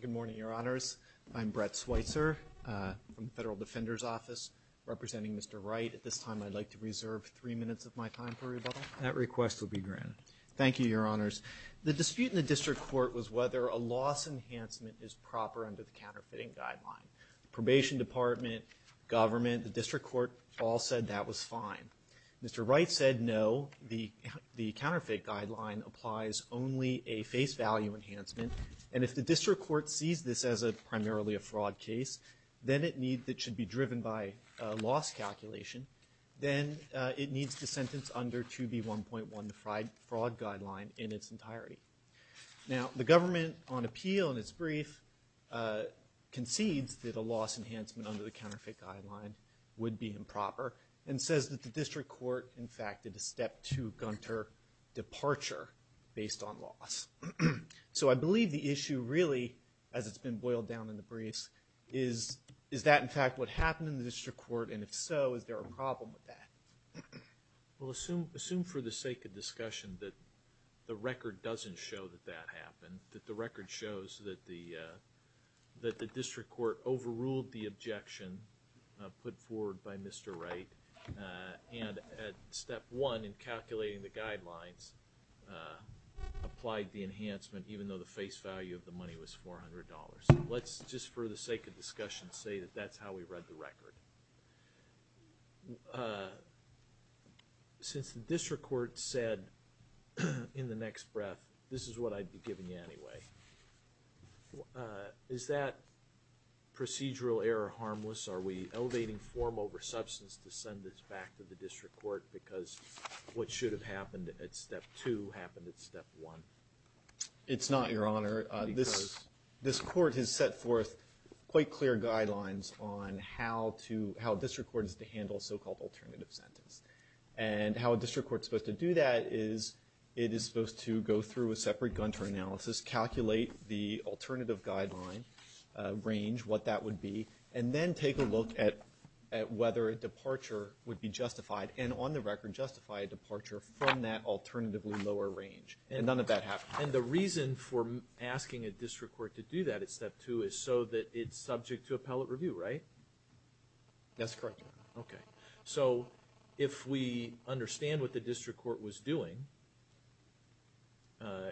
Good morning, Your Honors. I'm Brett Switzer from the Federal Defender's Office representing Mr. Wright. At this time, I'd like to reserve three minutes of my time for rebuttal. That request will be granted. Thank you, Your Honors. The dispute in the District Court was whether a loss enhancement is proper under the counterfeiting guideline. The Probation Department, government, the District Court all said that was fine. Mr. Wright said no, the counterfeit guideline applies only a face value enhancement, and if the District Court sees this as primarily a fraud case, then it should be driven by a loss calculation, then it needs to sentence under 2B1.1 the fraud guideline in its entirety. Now, the government on appeal in its brief concedes that a loss enhancement under the counterfeit guideline would be improper, and says that the District Court in fact did a to Gunter departure based on loss. So I believe the issue really, as it's been boiled down in the briefs, is that in fact what happened in the District Court, and if so, is there a problem with that? Well, assume for the sake of discussion that the record doesn't show that that happened, that the record shows that the District Court overruled the objection put forward by Mr. Wright, and at step one in calculating the guidelines, applied the enhancement even though the face value of the money was $400. Let's just for the sake of discussion say that that's how we read the record. Since the District Court said in the next breath, this is what I'd be giving you anyway, is that procedural error harmless? Are we elevating form over substance to send this back to the District Court because what should have happened at step two happened at step one? It's not, Your Honor. This Court has set forth quite clear guidelines on how to, how a District Court is to handle a so-called alternative sentence. And how a District Court is supposed to do that is it is supposed to go through a separate Gunter analysis, calculate the extent to which a District Court would be justified, and on the record justify a departure from that alternatively lower range. And none of that happened. And the reason for asking a District Court to do that at step two is so that it's subject to appellate review, right? That's correct, Your Honor. So if we understand what the District Court was doing,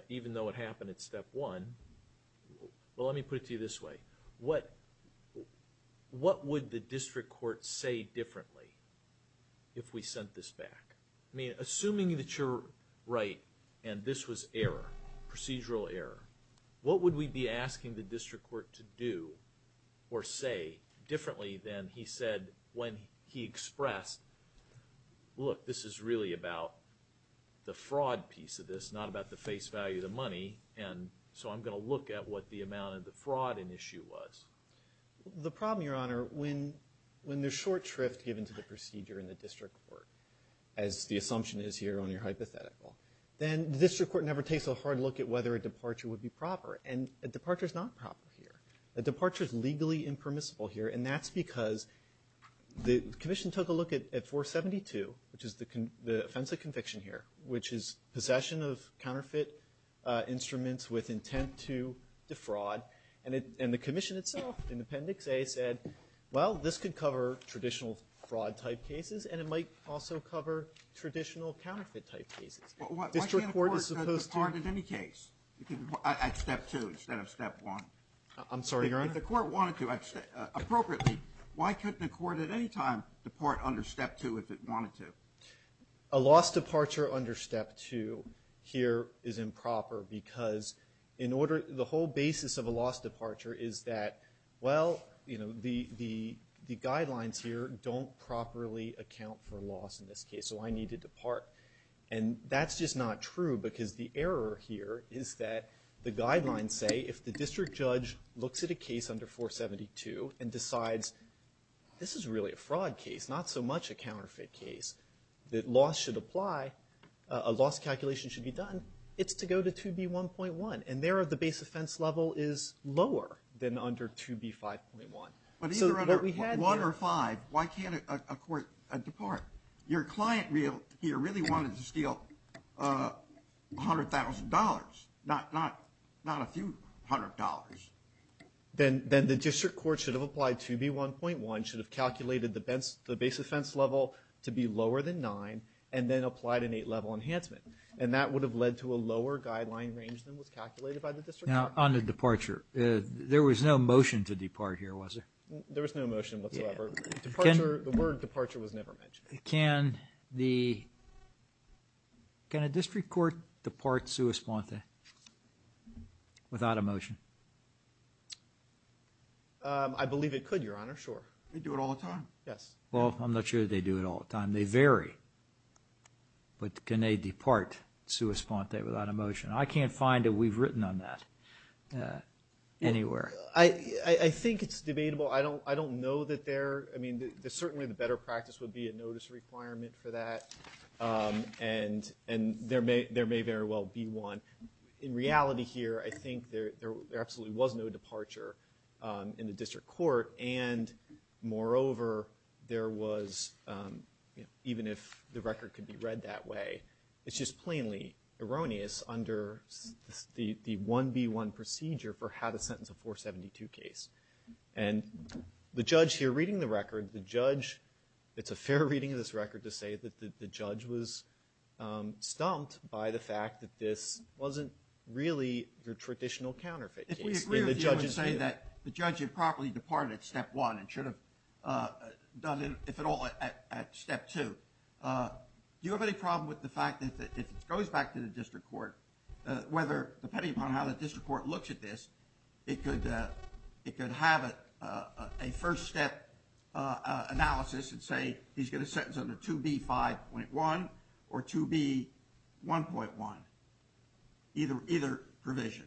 even though it happened at step one, well, let me put it to you this way. What would the District Court say differently if we sent this back? I mean, assuming that you're right and this was error, procedural error, what would we be asking the District Court to do or say differently than he said when he expressed, look, this is really about the fraud piece of this, not about the face value of the money, and so I'm going to look at what the amount of the fraud in issue was. The problem, Your Honor, when there's short shrift given to the procedure in the District Court, as the assumption is here on your hypothetical, then the District Court never takes a hard look at whether a departure would be proper. And a departure is not proper here. A departure is legally impermissible here, and that's because the Commission took a look at 472, which is the offense of conviction here, which is possession of counterfeit instruments with the Commission itself in Appendix A said, well, this could cover traditional fraud-type cases and it might also cover traditional counterfeit-type cases. Why can't a court depart at any case at step two instead of step one? I'm sorry, Your Honor? If the court wanted to, appropriately, why couldn't a court at any time depart under step two if it wanted to? A loss departure under step two here is improper because the whole basis of a loss departure is that, well, you know, the guidelines here don't properly account for loss in this case, so I need to depart. And that's just not true because the error here is that the guidelines say if the district judge looks at a case under 472 and decides this is really a fraud case, not so much a counterfeit case, that loss should apply, a loss calculation should be done, it's to go to 2B1.1, and there the base offense level is lower than under 2B5.1. But either under 1 or 5, why can't a court depart? Your client here really wanted to steal $100,000, not a few hundred dollars. Then the district court should have applied 2B1.1, should have calculated the base offense level to be lower than 9, and then applied an 8-level enhancement, and that would have led to a lower guideline range than was calculated by the district court. Now, on the departure, there was no motion to depart here, was there? There was no motion whatsoever. The word departure was never mentioned. Can a district court depart sua sponte without a motion? I believe it could, Your Honor, sure. They do it all the time. Yes. Well, I'm not sure they do it all the time. They vary. But can they depart sua sponte without a motion? I can't find a we've written on that anywhere. I think it's debatable. I don't know that there, I mean, certainly the better practice would be a notice requirement for that, and there may very well be one. In reality here, I think there absolutely was no departure in the district court, and moreover, there was, even if the record could be read that way, it's just plainly erroneous under the 1B1 procedure for how to sentence a 472 case. And the judge here reading the record, the judge, it's a fair reading of this record to say that the judge was stumped by the fact that this wasn't really your traditional counterfeit case. We agree with you when you say that the judge had properly departed at step one and should have done it, if at all, at step two. Do you have any problem with the fact that if it goes back to the district court, whether depending upon how the district court looks at this, it could have a first step analysis and say, he's going to sentence under 2B5.1 or 2B1.1, either provision?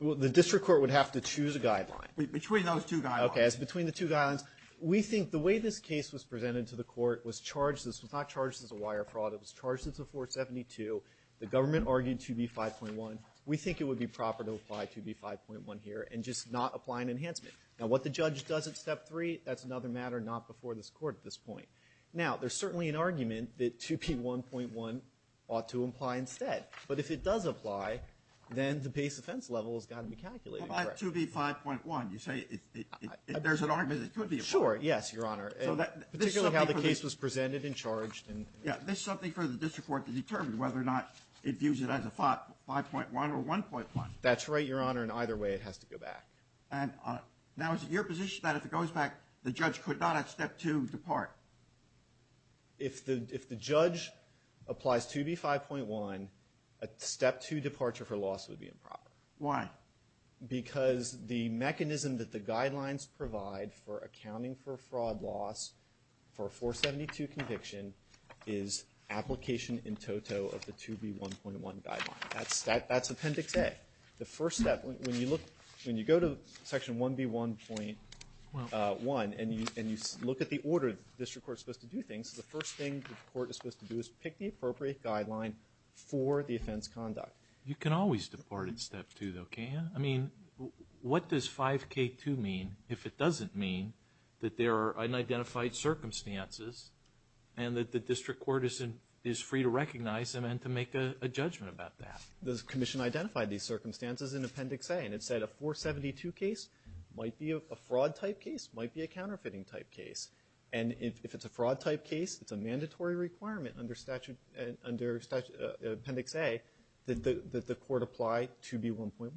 Well, the district court would have to choose a guideline. Between those two guidelines. Okay, it's between the two guidelines. We think the way this case was presented to the court was charged, this was not charged as a wire fraud, it was charged as a 472. The government argued 2B5.1. We think it would be proper to apply 2B5.1 here and just not apply an enhancement. Now, what the judge does at step three, that's another matter not before this court at this point. Now, there's certainly an argument that 2B1.1 ought to apply instead. But if it does apply, then the base offense level has got to be calculated. How about 2B5.1? You say there's an argument it could be applied. Sure, yes, Your Honor. Particularly how the case was presented and charged. Yeah, this is something for the district court to determine whether or not it views it as a 5.1 or 1.1. That's right, Your Honor, and either way it has to go back. Now, is it your position that if it goes back, the judge could not at step two depart? If the judge applies 2B5.1, a step two departure for loss would be improper. Why? Because the mechanism that the guidelines provide for accounting for fraud loss for a 472 conviction is application in toto of the 2B1.1 guideline. That's Appendix A. The first step, when you look, when you go to Section 1B1.1 and you look at the order the district court is supposed to do things, the first thing the court is supposed to do is pick the appropriate guideline for the offense conduct. You can always depart at step two, though, can't you? I mean, what does 5K2 mean if it doesn't mean that there are unidentified circumstances and that the district court is free to recognize them and to make a judgment about that? The commission identified these circumstances in Appendix A, and it said a 472 case might be a fraud-type case, might be a counterfeiting-type case. And if it's a fraud-type case, it's a mandatory requirement under Appendix A that the court apply 2B1.1.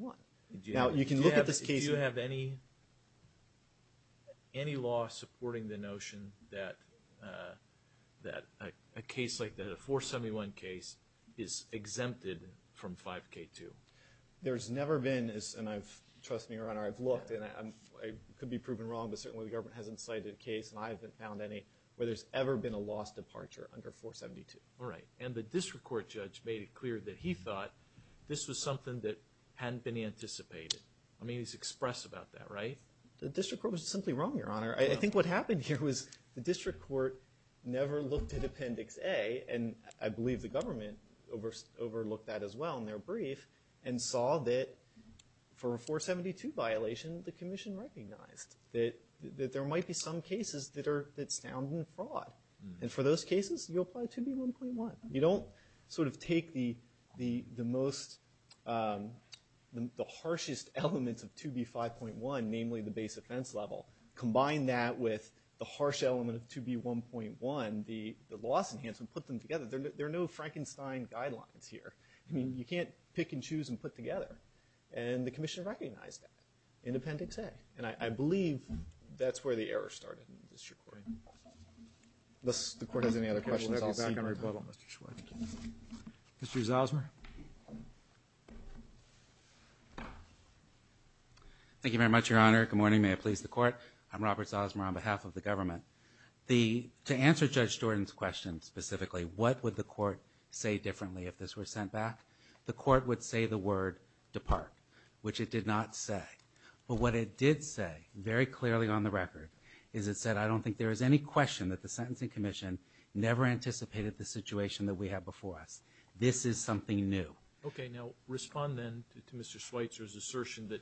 Now, you can look at this case. Do you have any law supporting the notion that a case like that, a 471 case, is exempted from 5K2? There's never been, and trust me, Your Honor, I've looked, and I could be proven wrong, but certainly the government hasn't cited a case, and I haven't found any, where there's ever been a lost departure under 472. All right. And the district court judge made it clear that he thought this was something that hadn't been anticipated. I mean, he's expressed about that, right? The district court was simply wrong, Your Honor. I think what happened here was the district court never looked at Appendix A, and I believe the government overlooked that as well in their brief, and saw that for a 472 violation, the commission recognized that there might be some cases that sound like fraud. And for those cases, you apply 2B1.1. You don't sort of take the most, the harshest elements of 2B5.1, namely the base offense level, combine that with the harsh element of 2B1.1, the loss enhancement, put them together. There are no Frankenstein guidelines here. I mean, you can't pick and choose and put together. And the commission recognized that in Appendix A, and I believe that's where the error started in the district court. Unless the court has any other questions, I'll see you in a little bit. Mr. Zosmer. Thank you very much, Your Honor. Good morning. May it please the court. I'm Robert Zosmer on behalf of the government. To answer Judge Stewarden's question specifically, what would the court say differently if this were sent back? The court would say the word, depart, which it did not say. But what it did say, very clearly on the record, is it said I don't think there is any question that the sentencing commission never anticipated the situation that we have before us. This is something new. Okay. Now respond then to Mr. Schweitzer's assertion that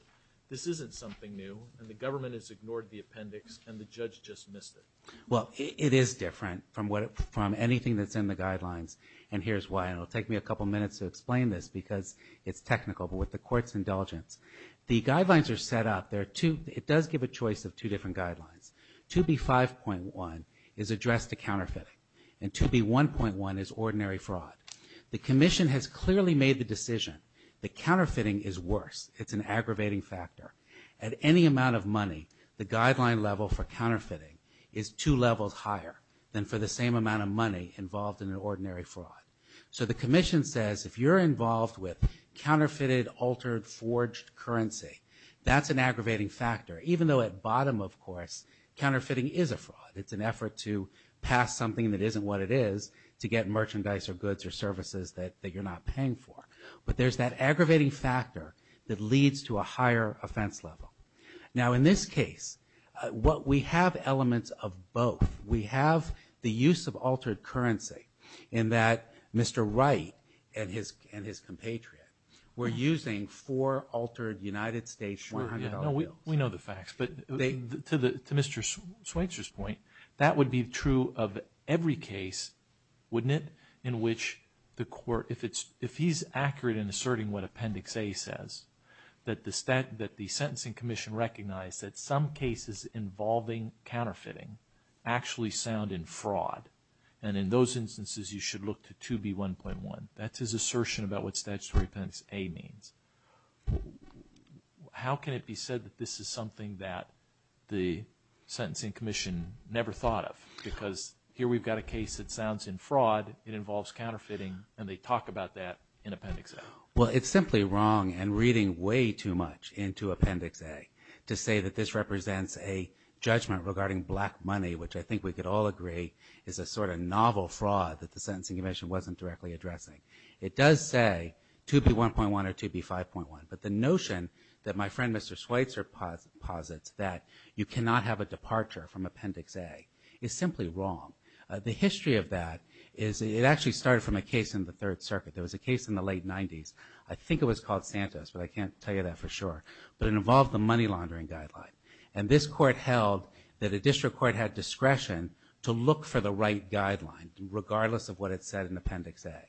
this isn't something new and the government has ignored the appendix and the judge just missed it. Well, it is different from anything that's in the guidelines, and here's why. And it'll take me a couple minutes to explain this because it's technical, but with the court's indulgence. The guidelines are set up. It does give a choice of two different guidelines. 2B5.1 is addressed to counterfeiting, and 2B1.1 is ordinary fraud. The commission has clearly made the decision that counterfeiting is worse. It's an aggravating factor. At any amount of money, the guideline level for counterfeiting is two levels higher than for the same amount of money involved in an ordinary fraud. So the commission says if you're involved with counterfeited, altered, forged currency, that's an aggravating factor, even though at bottom, of course, counterfeiting is a fraud. It's an effort to pass something that isn't what it is to get merchandise or goods or services that you're not paying for. But there's that aggravating factor that leads to a higher offense level. Now in this case, we have elements of both. We have the use of altered currency in that Mr. Wright and his compatriot were using four altered United States $400 bills. We know the facts, but to Mr. Schweitzer's point, that would be true of every case, wouldn't it, in which the court, if he's accurate in asserting what Appendix A says, that the sentencing commission recognized that some cases involving counterfeiting actually sound in fraud, and in those instances you should look to 2B1.1. That's his assertion about what Statutory Appendix A means. How can it be said that this is something that the sentencing commission never thought of? Because here we've got a case that sounds in fraud, it involves counterfeiting, and they talk about that in Appendix A. Well, it's simply wrong and reading way too much into Appendix A to say that this represents a judgment regarding black money, which I think we could all agree is a sort of novel fraud that the sentencing commission wasn't directly addressing. It does say 2B1.1 or 2B5.1, but the notion that my friend Mr. Schweitzer posits that you cannot have a departure from Appendix A is simply wrong. The history of that is it actually started from a case in the Third Circuit. There was a case in the late 90s. I think it was called Santos, but I can't tell you that for sure, but it involved the money laundering guideline, and this court held that a district court had discretion to look for the right guideline regardless of what it said in Appendix A,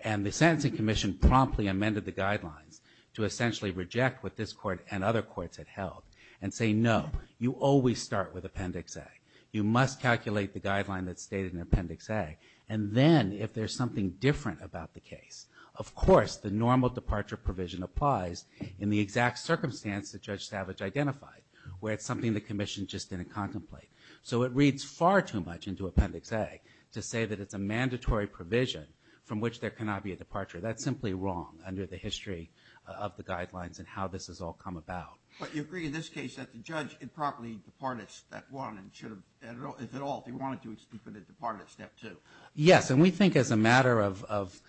and the sentencing commission promptly amended the guidelines to essentially reject what this court and other courts had held and say no, you always start with Appendix A. You must calculate the guideline that's stated in Appendix A, and then if there's something different about the case, of course the normal departure provision applies in the exact circumstance that Judge Savage identified where it's something the commission just didn't contemplate. So it reads far too much into Appendix A to say that it's a mandatory provision from which there cannot be a departure. That's simply wrong under the history of the guidelines and how this has all come about. But you agree in this case that the judge improperly departed Step 1 and should have, if at all, if he wanted to, he should have departed Step 2. Yes, and we think as a matter of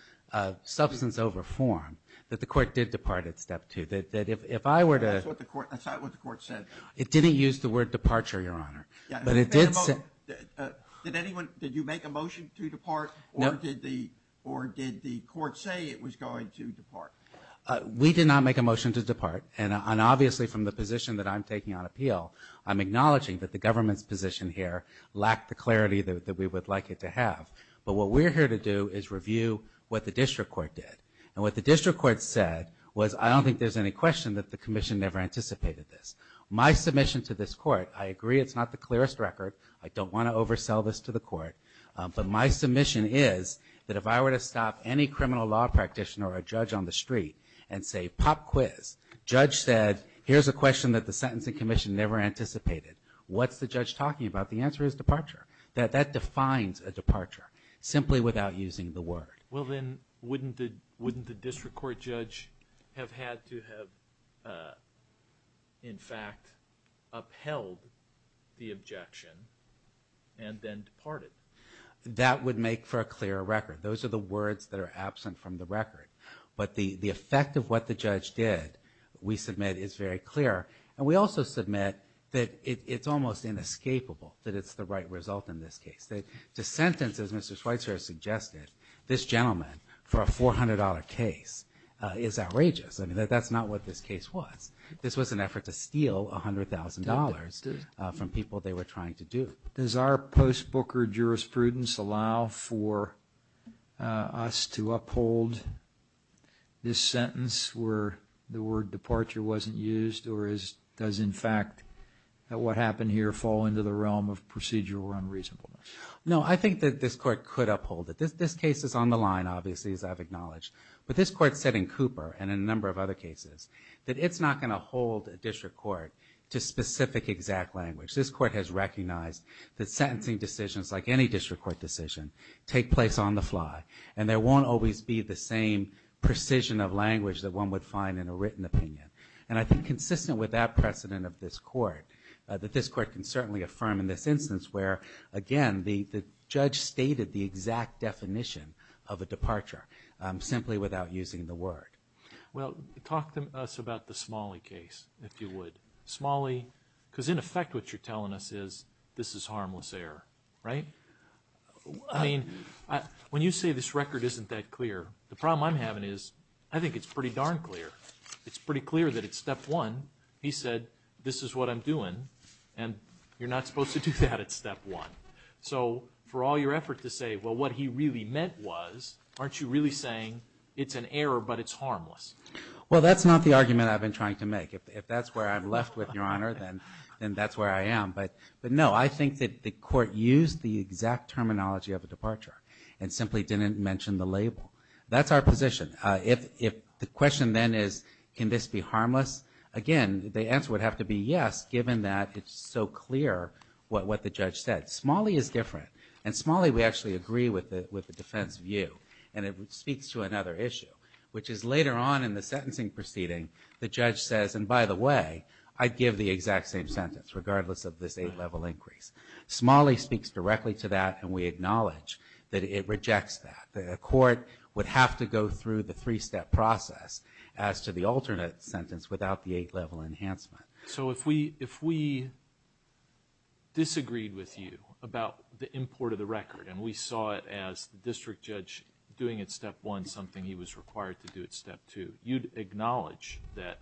substance over form that the court did depart at Step 2, that if I were to... That's not what the court said. It didn't use the word departure, Your Honor. But it did say... Did anyone... Did you make a motion to depart or did the court say it was going to depart? We did not make a motion to depart, and obviously from the position that I'm taking on appeal, I'm acknowledging that the government's position here lacked the clarity that we would like it to have. But what we're here to do is review what the district court did. And what the district court said was, I don't think there's any question that the commission never anticipated this. My submission to this court, I agree it's not the clearest record. I don't want to oversell this to the court. But my submission is that if I were to stop any criminal law practitioner or a judge on the street and say, pop quiz, judge said, here's a question that the sentencing commission never anticipated. What's the judge talking about? The answer is departure. That defines a departure, simply without using the word. Well then, wouldn't the district court judge have had to have, in fact, upheld the objection and then departed? That would make for a clearer record. Those are the words that are absent from the record. But the effect of what the judge did, we submit, is very clear. And we also submit that it's almost inescapable that it's the right result in this case. The sentence, as Mr. Schweitzer has suggested, this gentleman, for a $400 case, is outrageous. That's not what this case was. This was an effort to steal $100,000 from people they were trying to do. Does our post-Booker jurisprudence allow for us to uphold this sentence where the word departure wasn't used? Or does, in fact, what happened here fall into the realm of procedural unreasonableness? No, I think that this court could uphold it. This case is on the line, obviously, as I've acknowledged. But this court said in Cooper, and in a number of other cases, that it's not going to hold a district court to specific exact language. This court has recognized that sentencing decisions, like any district court decision, take place on the fly, and there won't always be the same precision of language that one would find in a written opinion. And I think consistent with that precedent of this court, that this court can certainly affirm in this instance where, again, the judge stated the exact definition of a departure simply without using the word. Well, talk to us about the Smalley case, if you would. Smalley, because in effect what you're telling us is this is harmless error, right? I mean, when you say this record isn't that clear, the problem I'm having is I think it's pretty darn clear. It's pretty clear that at step one he said, this is what I'm doing, and you're not supposed to do that at step one. So for all your effort to say, well, what he really meant was, aren't you really saying it's an error but it's harmless? Well, that's not the argument I've been trying to make. If that's where I'm left with, Your Honor, then that's where I am. But, no, I think that the court used the exact terminology of a departure and simply didn't mention the label. That's our position. The question then is, can this be harmless? Again, the answer would have to be yes, given that it's so clear what the judge said. Smalley is different, and Smalley we actually agree with the defense view, and it speaks to another issue, which is later on in the sentencing proceeding, the judge says, and by the way, I'd give the exact same sentence, regardless of this eight-level increase. Smalley speaks directly to that, and we acknowledge that it rejects that. The court would have to go through the three-step process as to the alternate sentence without the eight-level enhancement. So if we disagreed with you about the import of the record, and we saw it as the district judge doing at step one something he was required to do at step two, you'd acknowledge that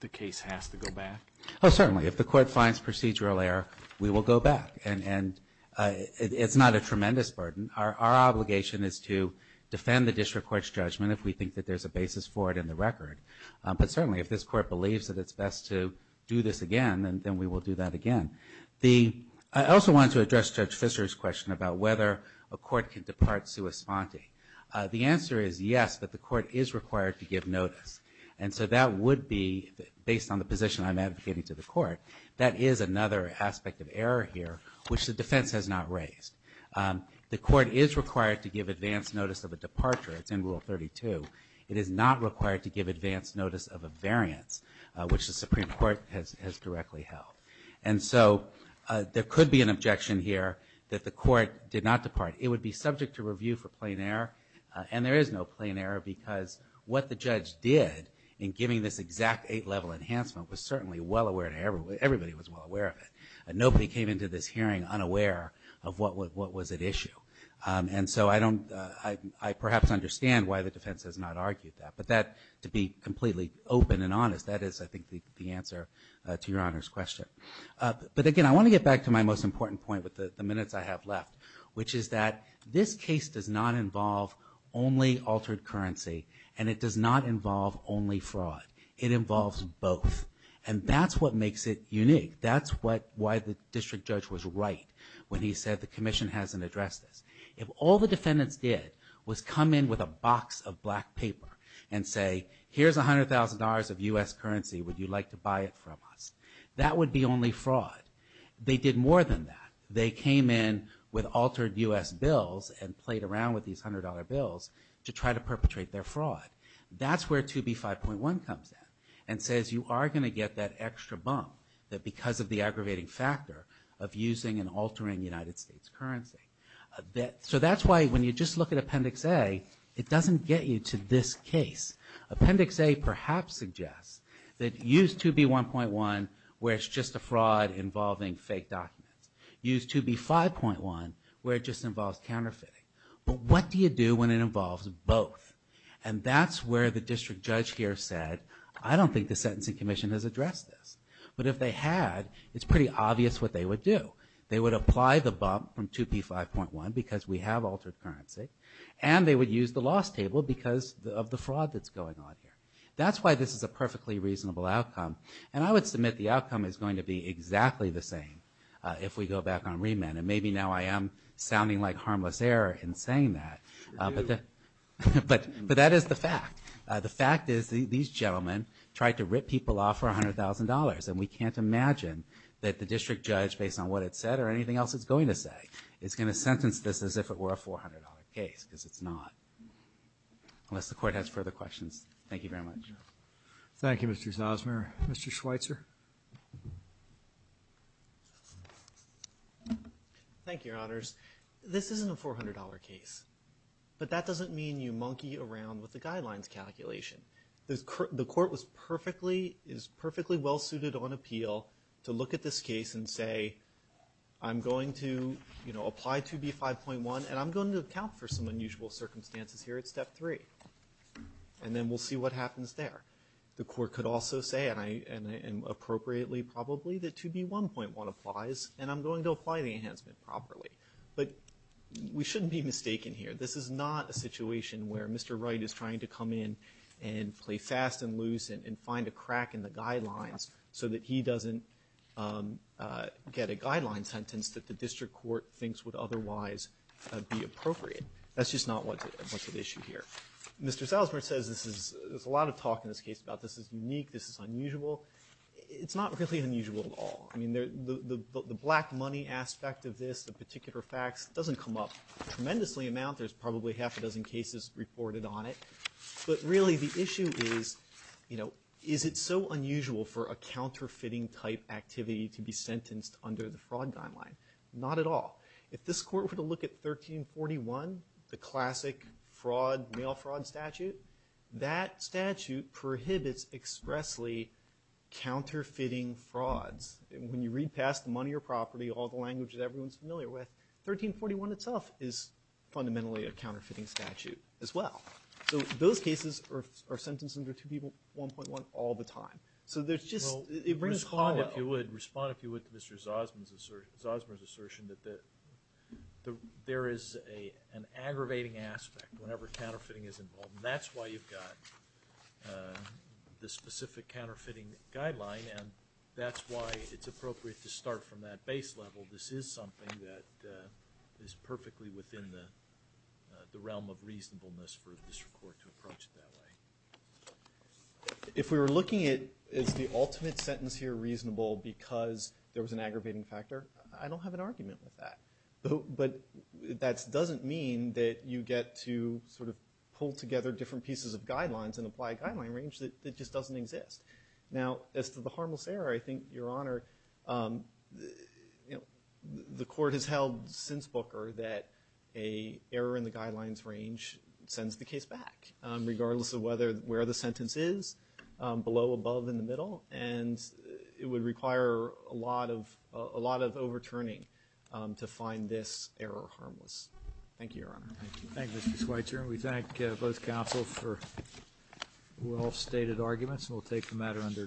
the case has to go back? Oh, certainly. If the court finds procedural error, we will go back. And it's not a tremendous burden. Our obligation is to defend the district court's judgment if we think that there's a basis for it in the record. But certainly if this court believes that it's best to do this again, then we will do that again. I also wanted to address Judge Fischer's question about whether a court can depart sua sponte. The answer is yes, but the court is required to give notice. And so that would be, based on the position I'm advocating to the court, that is another aspect of error here, which the defense has not raised. The court is required to give advance notice of a departure. It's in Rule 32. It is not required to give advance notice of a variance, which the Supreme Court has directly held. And so there could be an objection here that the court did not depart. It would be subject to review for plain error. And there is no plain error because what the judge did in giving this exact eight-level enhancement was certainly well aware to everybody. Everybody was well aware of it. Nobody came into this hearing unaware of what was at issue. And so I perhaps understand why the defense has not argued that. But to be completely open and honest, that is, I think, the answer to Your Honor's question. But again, I want to get back to my most important point with the minutes I have left, which is that this case does not involve only altered currency, and it does not involve only fraud. It involves both. And that's what makes it unique. That's why the district judge was right when he said the commission hasn't addressed this. If all the defendants did was come in with a box of black paper and say, here's $100,000 of U.S. currency. Would you like to buy it from us? That would be only fraud. They did more than that. They came in with altered U.S. bills and played around with these $100 bills to try to perpetrate their fraud. That's where 2B5.1 comes in and says you are going to get that extra bump that because of the aggravating factor of using and altering United States currency. So that's why when you just look at Appendix A, it doesn't get you to this case. Appendix A perhaps suggests that use 2B1.1 where it's just a fraud involving fake documents. Use 2B5.1 where it just involves counterfeiting. But what do you do when it involves both? And that's where the district judge here said, I don't think the sentencing commission has addressed this. But if they had, it's pretty obvious what they would do. They would apply the bump from 2B5.1 because we have altered currency, and they would use the loss table because of the fraud that's going on here. That's why this is a perfectly reasonable outcome. And I would submit the outcome is going to be exactly the same if we go back on remand. And maybe now I am sounding like harmless error in saying that. But that is the fact. The fact is these gentlemen tried to rip people off for $100,000, and we can't imagine that the district judge, based on what it said or anything else it's going to say, is going to sentence this as if it were a $400 case because it's not. Unless the court has further questions. Thank you very much. Thank you, Mr. Zosmer. Mr. Schweitzer. Thank you, Your Honors. This isn't a $400 case. But that doesn't mean you monkey around with the guidelines calculation. The court is perfectly well-suited on appeal to look at this case and say, I'm going to apply 2B5.1, and I'm going to account for some unusual circumstances here at Step 3. And then we'll see what happens there. The court could also say, and appropriately probably, that 2B1.1 applies, and I'm going to apply the enhancement properly. But we shouldn't be mistaken here. This is not a situation where Mr. Wright is trying to come in and play fast and loose and find a crack in the guidelines so that he doesn't get a guideline sentence that the district court thinks would otherwise be appropriate. That's just not what's at issue here. Mr. Zosmer says there's a lot of talk in this case about this is unique, this is unusual. It's not really unusual at all. I mean, the black money aspect of this, the particular facts, doesn't come up tremendously amount. There's probably half a dozen cases reported on it. But really the issue is, is it so unusual for a counterfeiting-type activity to be sentenced under the fraud guideline? Not at all. If this court were to look at 1341, the classic mail fraud statute, that statute prohibits expressly counterfeiting frauds. When you read past the money or property, all the language that everyone's familiar with, 1341 itself is fundamentally a counterfeiting statute as well. So those cases are sentenced under 2B1.1 all the time. So there's just – Respond, if you would, to Mr. Zosmer's assertion that there is an aggravating aspect whenever counterfeiting is involved. And that's why you've got the specific counterfeiting guideline, and that's why it's appropriate to start from that base level. This is something that is perfectly within the realm of reasonableness for this court to approach it that way. If we were looking at is the ultimate sentence here reasonable because there was an aggravating factor, I don't have an argument with that. But that doesn't mean that you get to sort of pull together different pieces of guidelines and apply a guideline range that just doesn't exist. Now, as to the harmless error, I think, Your Honor, the court has held since Booker that an error in the guidelines range sends the case back, regardless of where the sentence is, below, above, in the middle. And it would require a lot of overturning to find this error harmless. Thank you, Your Honor. Thank you. Thank you, Mr. Schweitzer. We thank both counsels for well-stated arguments, and we'll take the matter under advisement.